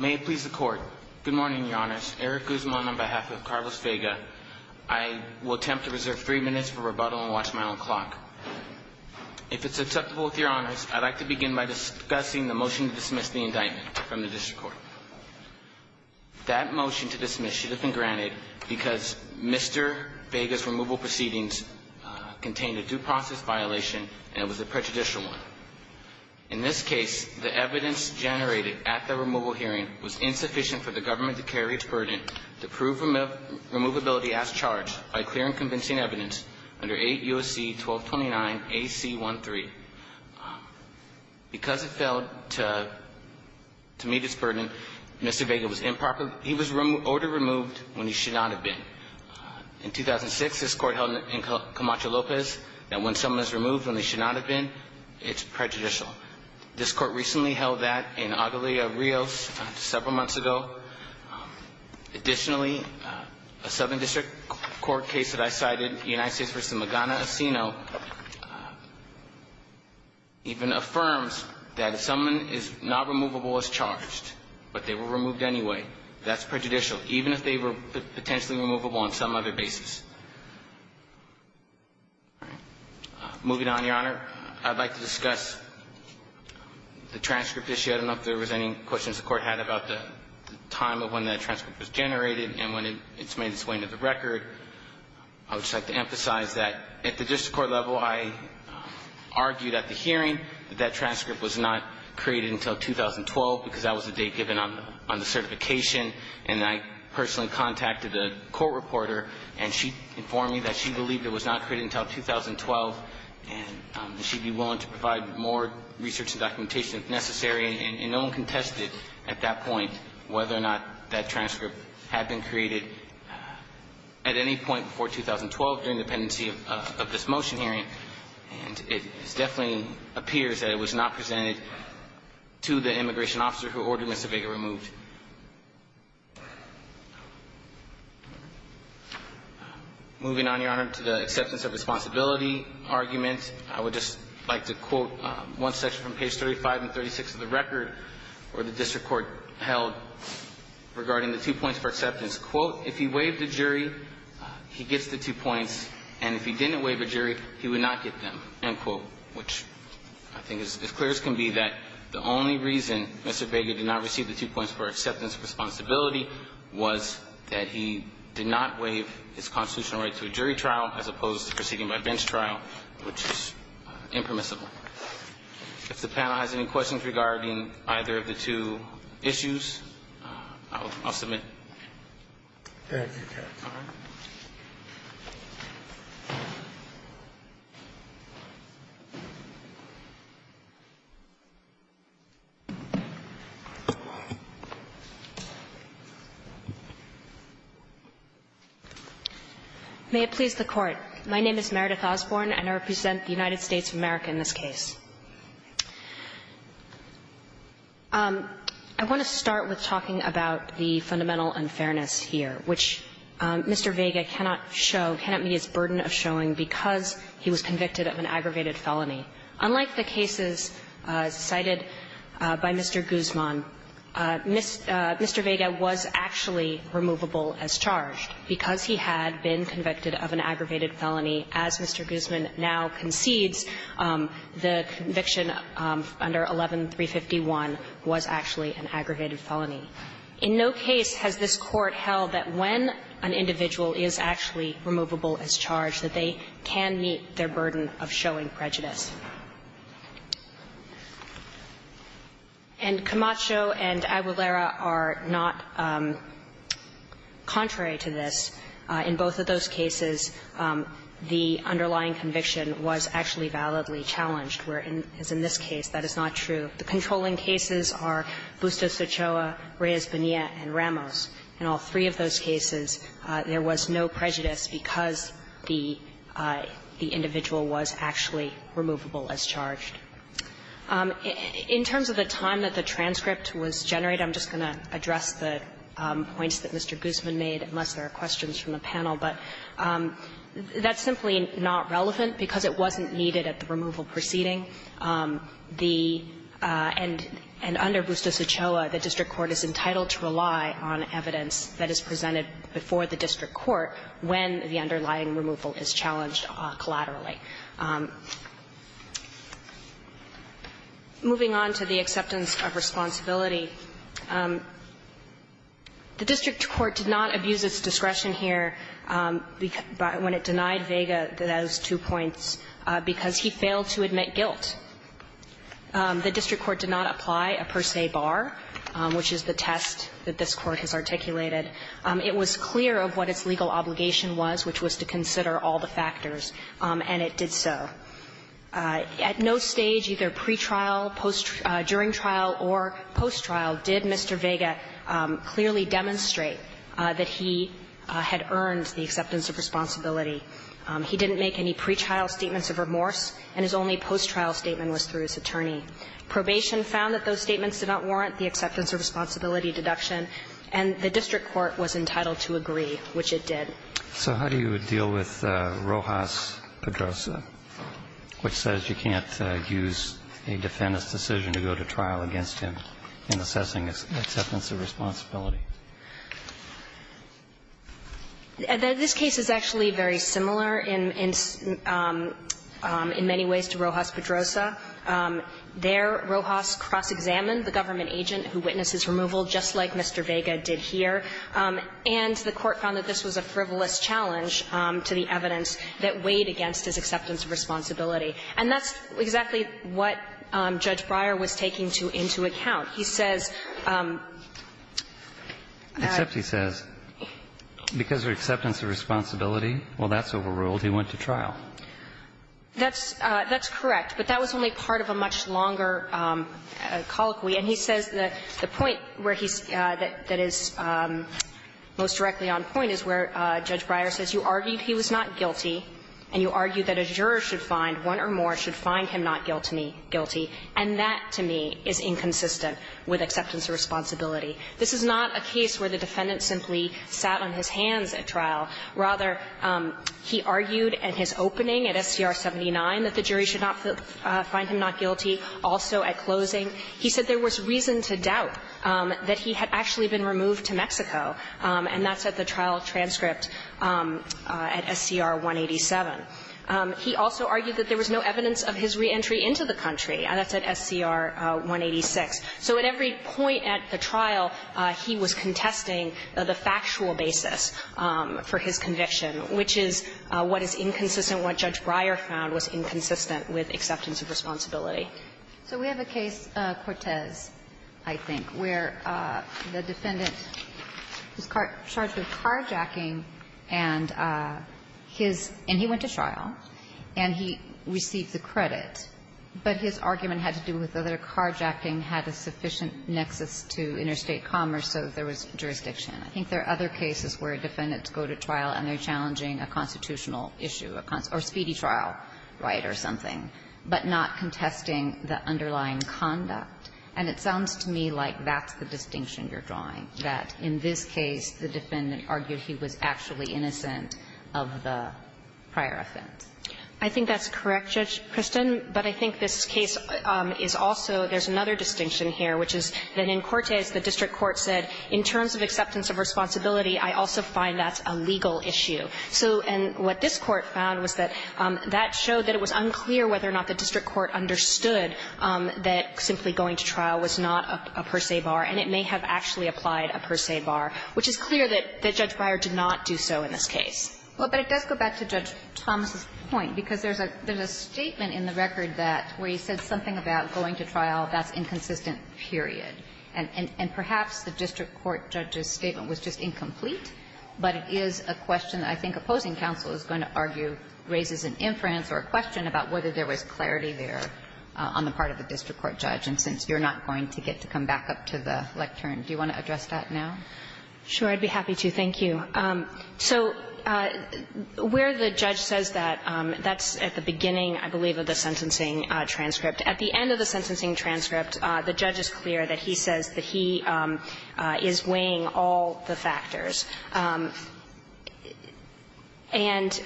May it please the court, good morning your honors, Eric Guzman on behalf of Carlos Vega. I will attempt to reserve three minutes for rebuttal and watch my own clock. If it's acceptable with your honors, I'd like to begin by discussing the motion to dismiss the indictment from the district court. That motion to dismiss should have been granted because Mr. Vega's removal proceedings contained a due process violation and it was a prejudicial one. In this case the evidence generated at the removal hearing was insufficient for the government to carry its burden to prove removability as charged by clear and convincing evidence under 8 U.S.C. 1229 AC 13. Because it failed to meet its burden, Mr. Vega was ordered removed when he should not have been. In 2006 this court held in Camacho Lopez that when someone is removed when they should not have been, it's prejudicial. This court recently held that in Aguilar Rios several months ago. Additionally, a Southern District Court case that I cited, the United States v. Magana Asino, even affirms that someone is not removable as charged, but they were removed anyway. That's prejudicial, even if they were potentially removable on some other basis. Moving on, Your Honor, I'd like to discuss the transcript issue. I don't know if there was any questions the Court had about the time of when that transcript was generated and when it's made its way into the record. I would just like to emphasize that at the district court level I argued at the hearing that that transcript was not created until 2012 because that was the date given on the certification. And I personally contacted a court reporter, and she informed me that she believed it was not created until 2012, and that she'd be willing to provide more research and documentation if necessary. And no one contested at that point whether or not that transcript had been created at any point before 2012 during the pendency of this motion hearing. And it definitely appears that it was not removed. Moving on, Your Honor, to the acceptance of responsibility argument, I would just like to quote one section from page 35 and 36 of the record where the district court held regarding the two points for acceptance. Quote, if he waived a jury, he gets the two points, and if he didn't waive a jury, he would not get them, end quote, which I think as clear as can be that the only reason Mr. Baker did not receive the two points for acceptance of responsibility was that he did not waive his constitutional right to a jury trial as opposed to proceeding by bench trial, which is impermissible. If the panel has any questions regarding either of the two issues, I'll submit. Thank you, Your Honor. May it please the Court. My name is Meredith Osborne, and I represent the United States of America in this case. I want to start with talking about the fundamental unfairness here, which Mr. Vega cannot show, cannot meet his burden of showing because he was convicted of an aggravated felony. Unlike the cases cited by Mr. Guzman, Mr. Vega was actually removable as charged. Because he had been convicted of an aggravated felony, as Mr. Guzman now concedes, the conviction under 11-351 was actually an aggregated felony. In no case has this Court held that when an individual is actually removable as charged that they can meet their burden of showing prejudice. And Camacho and Aguilera are not contrary to this. In both of those cases, the underlying conviction was actually validly challenged, whereas in this case that is not true. The controlling cases are Bustos-Ochoa, Reyes-Bonilla, and Ramos. In all three of those cases, there was no prejudice because the individual was actually removable as charged. In terms of the time that the transcript was generated, I'm just going to address the points that Mr. Guzman made, unless there are questions from the panel. But that's simply not relevant, because it wasn't needed at the removal proceeding. The end under Bustos-Ochoa, the district court is entitled to rely on evidence that is presented before the district court when the underlying removal is challenged collaterally. Moving on to the acceptance of responsibility, the district court did not abuse its discretion here when it denied Vega those two points because he failed to admit guilt. The district court did not apply a per se bar, which is the test that this Court has articulated. It was clear of what its legal obligation was, which was to consider all the factors, and it did so. At no stage, either pre-trial, during trial, or post-trial, did Mr. Vega clearly demonstrate that he had earned the acceptance of responsibility. He didn't make any pre-trial statements of remorse, and his only post-trial statement was through his attorney. Probation found that those statements did not warrant the acceptance of responsibility deduction, and the district court was entitled to agree, which it did. So how do you deal with Rojas-Pedroza, which says you can't use a defendant's decision to go to trial against him in assessing acceptance of responsibility? This case is actually very similar in many ways to Rojas-Pedroza. There, Rojas cross-examined the government agent who witnessed his removal, just like Mr. Vega did here, and the Court found that this was a frivolous challenge to the evidence that weighed against his acceptance of responsibility. And that's exactly what Judge Breyer was taking to into account. He says that he says, because of acceptance of responsibility, well, that's overruled, he went to trial. That's correct, but that was only part of a much longer colloquy. And he says the point where he's – that is most directly on point is where Judge Breyer says you argued he was not guilty, and you argued that a juror should find, one or more, should find him not guilty. And that, to me, is inconsistent with acceptance of responsibility. This is not a case where the defendant simply sat on his hands at trial. Rather, he argued at his opening at SCR 79 that the jury should not find him not guilty. Also, at closing, he said there was reason to doubt that he had actually been removed to Mexico, and that's at the trial transcript at SCR 187. He also argued that there was no evidence of his reentry into the country, and that's at SCR 186. So at every point at the trial, he was contesting the factual basis for his conviction, which is what is inconsistent, what Judge Breyer found was inconsistent with acceptance of responsibility. So we have a case, Cortez, I think, where the defendant was charged with carjacking and his – and he went to trial, and he received the credit, but his argument had to do with whether carjacking had a sufficient nexus to interstate commerce, so there was jurisdiction. I think there are other cases where defendants go to trial and they're challenging a constitutional issue, or speedy trial, right, or something, but not contesting the underlying conduct. And it sounds to me like that's the distinction you're drawing, that in this case, the defendant argued he was actually innocent of the prior offense. I think that's correct, Judge Kristen, but I think this case is also – there's another distinction here, which is that in Cortez, the district court said, in terms of acceptance of responsibility, I also find that's a legal issue. So – and what this Court found was that that showed that it was unclear whether or not the district court understood that simply going to trial was not a per se bar, and it may have actually applied a per se bar, which is clear that Judge Breyer did not do so in this case. Well, but it does go back to Judge Thomas's point, because there's a statement in the record that where he said something about going to trial, that's inconsistent, period. And perhaps the district court judge's statement was just incomplete, but it is a question that I think opposing counsel is going to argue raises an inference or a question about whether there was clarity there on the part of the district court judge, and since you're not going to get to come back up to the lectern, do you want to address that now? Sure. I'd be happy to. Thank you. So where the judge says that, that's at the beginning, I believe, of the sentencing transcript. At the end of the sentencing transcript, the judge is clear that he says that he is weighing all the factors. And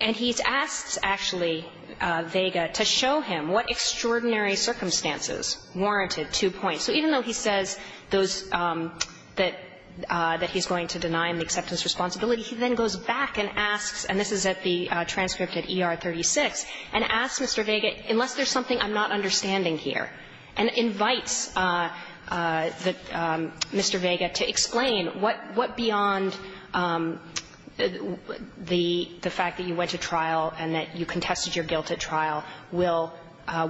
he's asked, actually, Vega, to show him what extraordinary circumstances warranted two points. And he says those that he's going to deny him the acceptance responsibility. He then goes back and asks, and this is at the transcript at ER 36, and asks Mr. Vega, unless there's something I'm not understanding here, and invites Mr. Vega to explain what, what beyond the fact that you went to trial and that you contested your guilt at trial will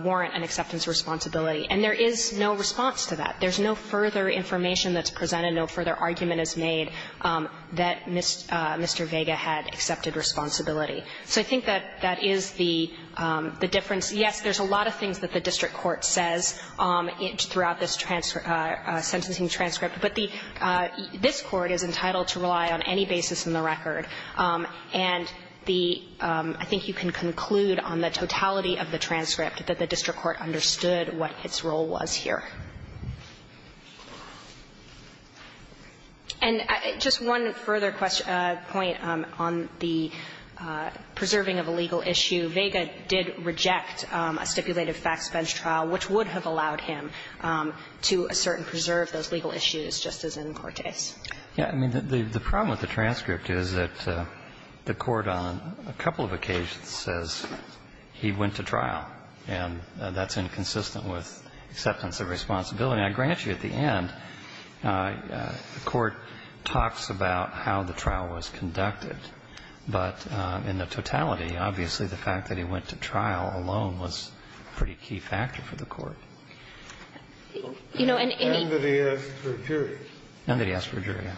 warrant an acceptance responsibility. And there is no response to that. There's no further information that's presented, no further argument is made that Mr. Vega had accepted responsibility. So I think that that is the difference. Yes, there's a lot of things that the district court says throughout this transcript – sentencing transcript, but the – this court is entitled to rely on any basis in the record. And the – I think you can conclude on the totality of the transcript that the district court understood what its role was here. And just one further question – point on the preserving of a legal issue. Vega did reject a stipulated facts bench trial, which would have allowed him to assert and preserve those legal issues, just as in Cortes. Yeah. I mean, the problem with the transcript is that the court on a couple of occasions says he went to trial, and that's inconsistent with acceptance of responsibility. And I grant you, at the end, the court talks about how the trial was conducted. But in the totality, obviously, the fact that he went to trial alone was a pretty key factor for the court. You know, and any – None that he asked for a jury. None that he asked for a jury, yeah.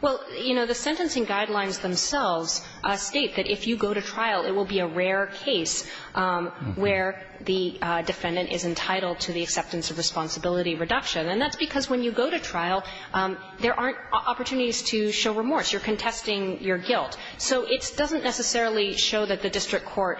Well, you know, the sentencing guidelines themselves state that if you go to trial, it will be a rare case where the defendant is entitled to the acceptance of responsibility reduction. And that's because when you go to trial, there aren't opportunities to show remorse. You're contesting your guilt. So it doesn't necessarily show that the district court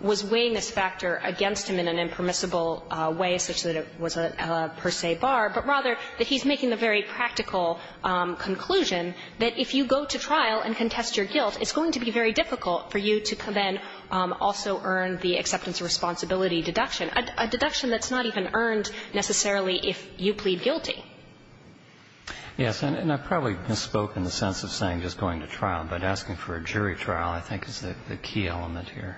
was weighing this factor against him in an impermissible way, such that it was a per se bar, but rather that he's making the very practical conclusion that if you go to trial and contest your guilt, it's going to be very difficult for you to then also earn the acceptance of responsibility deduction, a deduction that's not even earned necessarily if you plead guilty. Yes. And I probably misspoke in the sense of saying just going to trial, but asking for a jury trial, I think, is the key element here.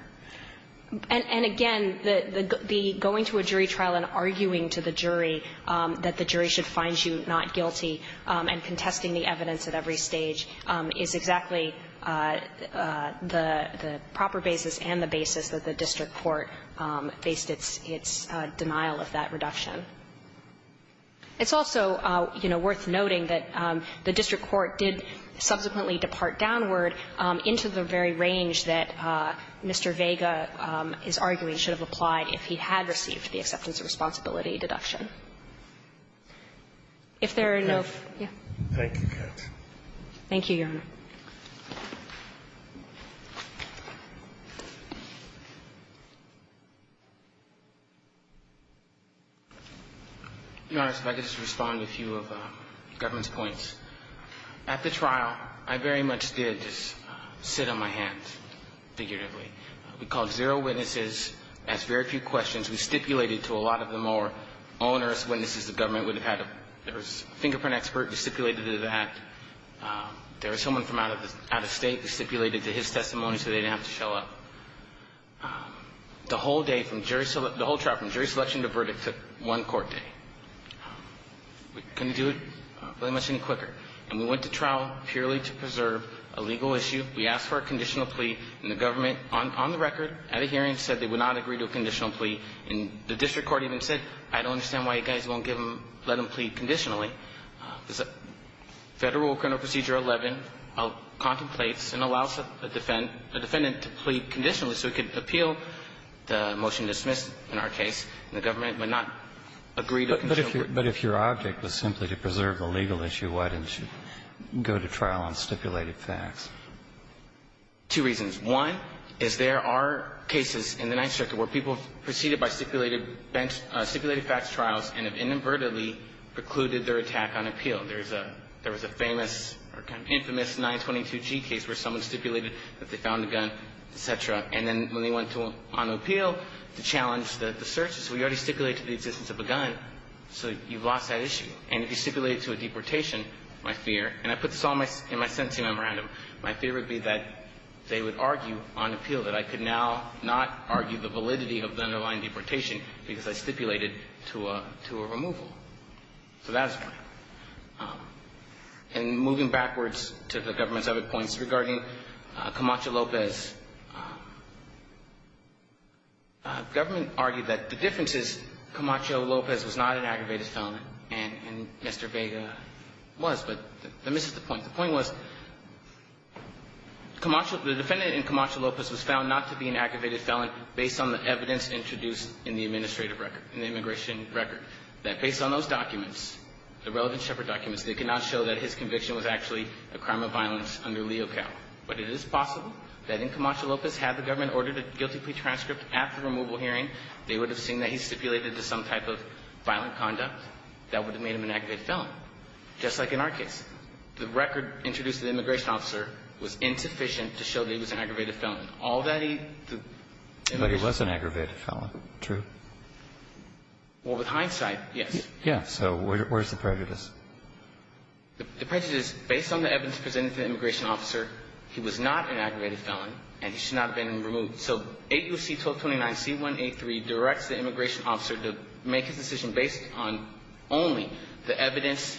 And again, the going to a jury trial and arguing to the jury that the jury should find you not guilty and contesting the evidence at every stage is exactly the proper basis and the basis that the district court faced its denial of that reduction. It's also, you know, worth noting that the district court did subsequently depart downward into the very range that Mr. Vega is arguing should have applied if he had received the acceptance of responsibility deduction. If there are no other questions. Thank you, Your Honor. Your Honor, if I could just respond to a few of the government's points. At the trial, I very much did just sit on my hands figuratively. We called zero witnesses, asked very few questions. We stipulated to a lot of them or onerous witnesses the government would have had. There was a fingerprint expert who stipulated to that. There was someone from out of state who stipulated to his testimony so they didn't have to show up. The whole day from jury so the whole trial from jury selection to verdict took one court day. We couldn't do it very much any quicker. And we went to trial purely to preserve a legal issue. We asked for a conditional plea, and the government on the record at a hearing said they would not agree to a conditional plea. And the district court even said, I don't understand why you guys won't give them or let them plead conditionally. Federal Criminal Procedure 11 contemplates and allows a defendant to plead conditionally so he could appeal the motion dismissed in our case, and the government would not agree to a conditional plea. But if your object was simply to preserve a legal issue, why didn't you go to trial on stipulated facts? Two reasons. One is there are cases in the Ninth Circuit where people have proceeded by stipulated bench – stipulated facts trials and have inadvertently precluded their attack on appeal. There's a – there was a famous or kind of infamous 922G case where someone stipulated that they found a gun, et cetera. And then when they went on appeal to challenge the search, so you already stipulated the existence of a gun, so you've lost that issue. And if you stipulate it to a deportation, my fear – and I put this all in my sentencing memorandum – my fear would be that they would argue on appeal that I could now not argue the validity of the underlying deportation because I stipulated to a – to a removal. So that is one. And moving backwards to the government's other points regarding Camacho-Lopez, government argued that the difference is Camacho-Lopez was not an aggravated felon, and Mr. Vega was, but that misses the point. The point was Camacho – the defendant in Camacho-Lopez was found not to be an aggravated felon based on the evidence introduced in the administrative record – in the immigration record, that based on those documents, the relevant Shepard documents, they could not show that his conviction was actually a crime of violence under Leo Cal. But it is possible that in Camacho-Lopez, had the government ordered a guilty plea transcript after removal hearing, they would have seen that he stipulated to some type of violent conduct that would have made him an aggravated felon, just like in our And so the government argued that the record introduced to the immigration officer was insufficient to show that he was an aggravated felon, all that he – But he was an aggravated felon, true? Well, with hindsight, yes. Yeah. So where's the prejudice? The prejudice, based on the evidence presented to the immigration officer, he was not an aggravated felon, and he should not have been removed. So 8 U.S.C. 1229 C.1.A.3 directs the immigration officer to make his decision based on only the evidence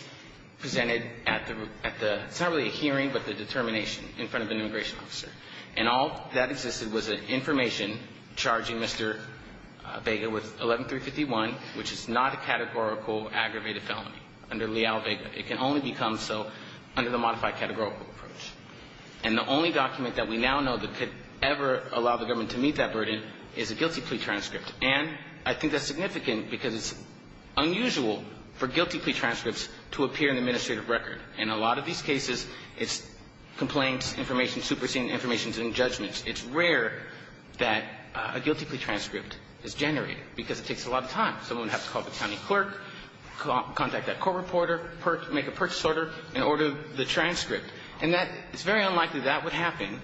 presented at the – it's not really a hearing, but the determination in front of an immigration officer. And all that existed was information charging Mr. Vega with 11351, which is not a categorical aggravated felony under Leal-Vega. It can only become so under the modified categorical approach. And the only document that we now know that could ever allow the government to meet that burden is a guilty plea transcript. And I think that's significant because it's unusual for guilty plea transcripts to appear in the administrative record. In a lot of these cases, it's complaints, information, superseding information and judgments. It's rare that a guilty plea transcript is generated because it takes a lot of time. Someone would have to call the county clerk, contact that court reporter, make a purchase order, and order the transcript. And that – it's very unlikely that would happen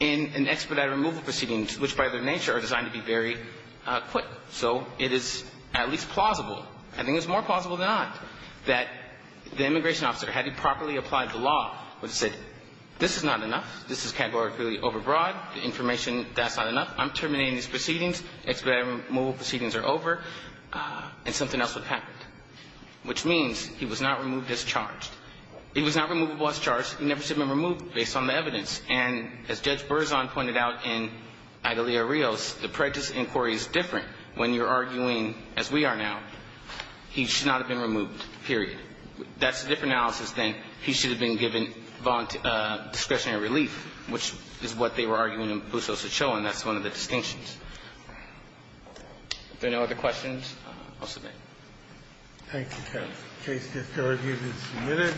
in an expedited removal proceedings, which by their nature are designed to be very quick. So it is at least plausible – I think it's more plausible than not – that the immigration officer, had he properly applied the law, would have said, this is not enough, this is categorically overbroad, the information, that's not enough, I'm terminating these proceedings, expedited removal proceedings are over, and something else would have happened. Which means he was not removed as charged. He was not removable as charged. He never should have been removed based on the evidence. And as Judge Berzon pointed out in Agalia Rios, the prejudice inquiry is different when you're arguing, as we are now, he should not have been removed, period. That's a different analysis than he should have been given discretionary relief, which is what they were arguing in Buso's Ochoa, and that's one of the distinctions. If there are no other questions, I'll submit. Roberts. Thank you, counsel. The case is still in hearing and submitted.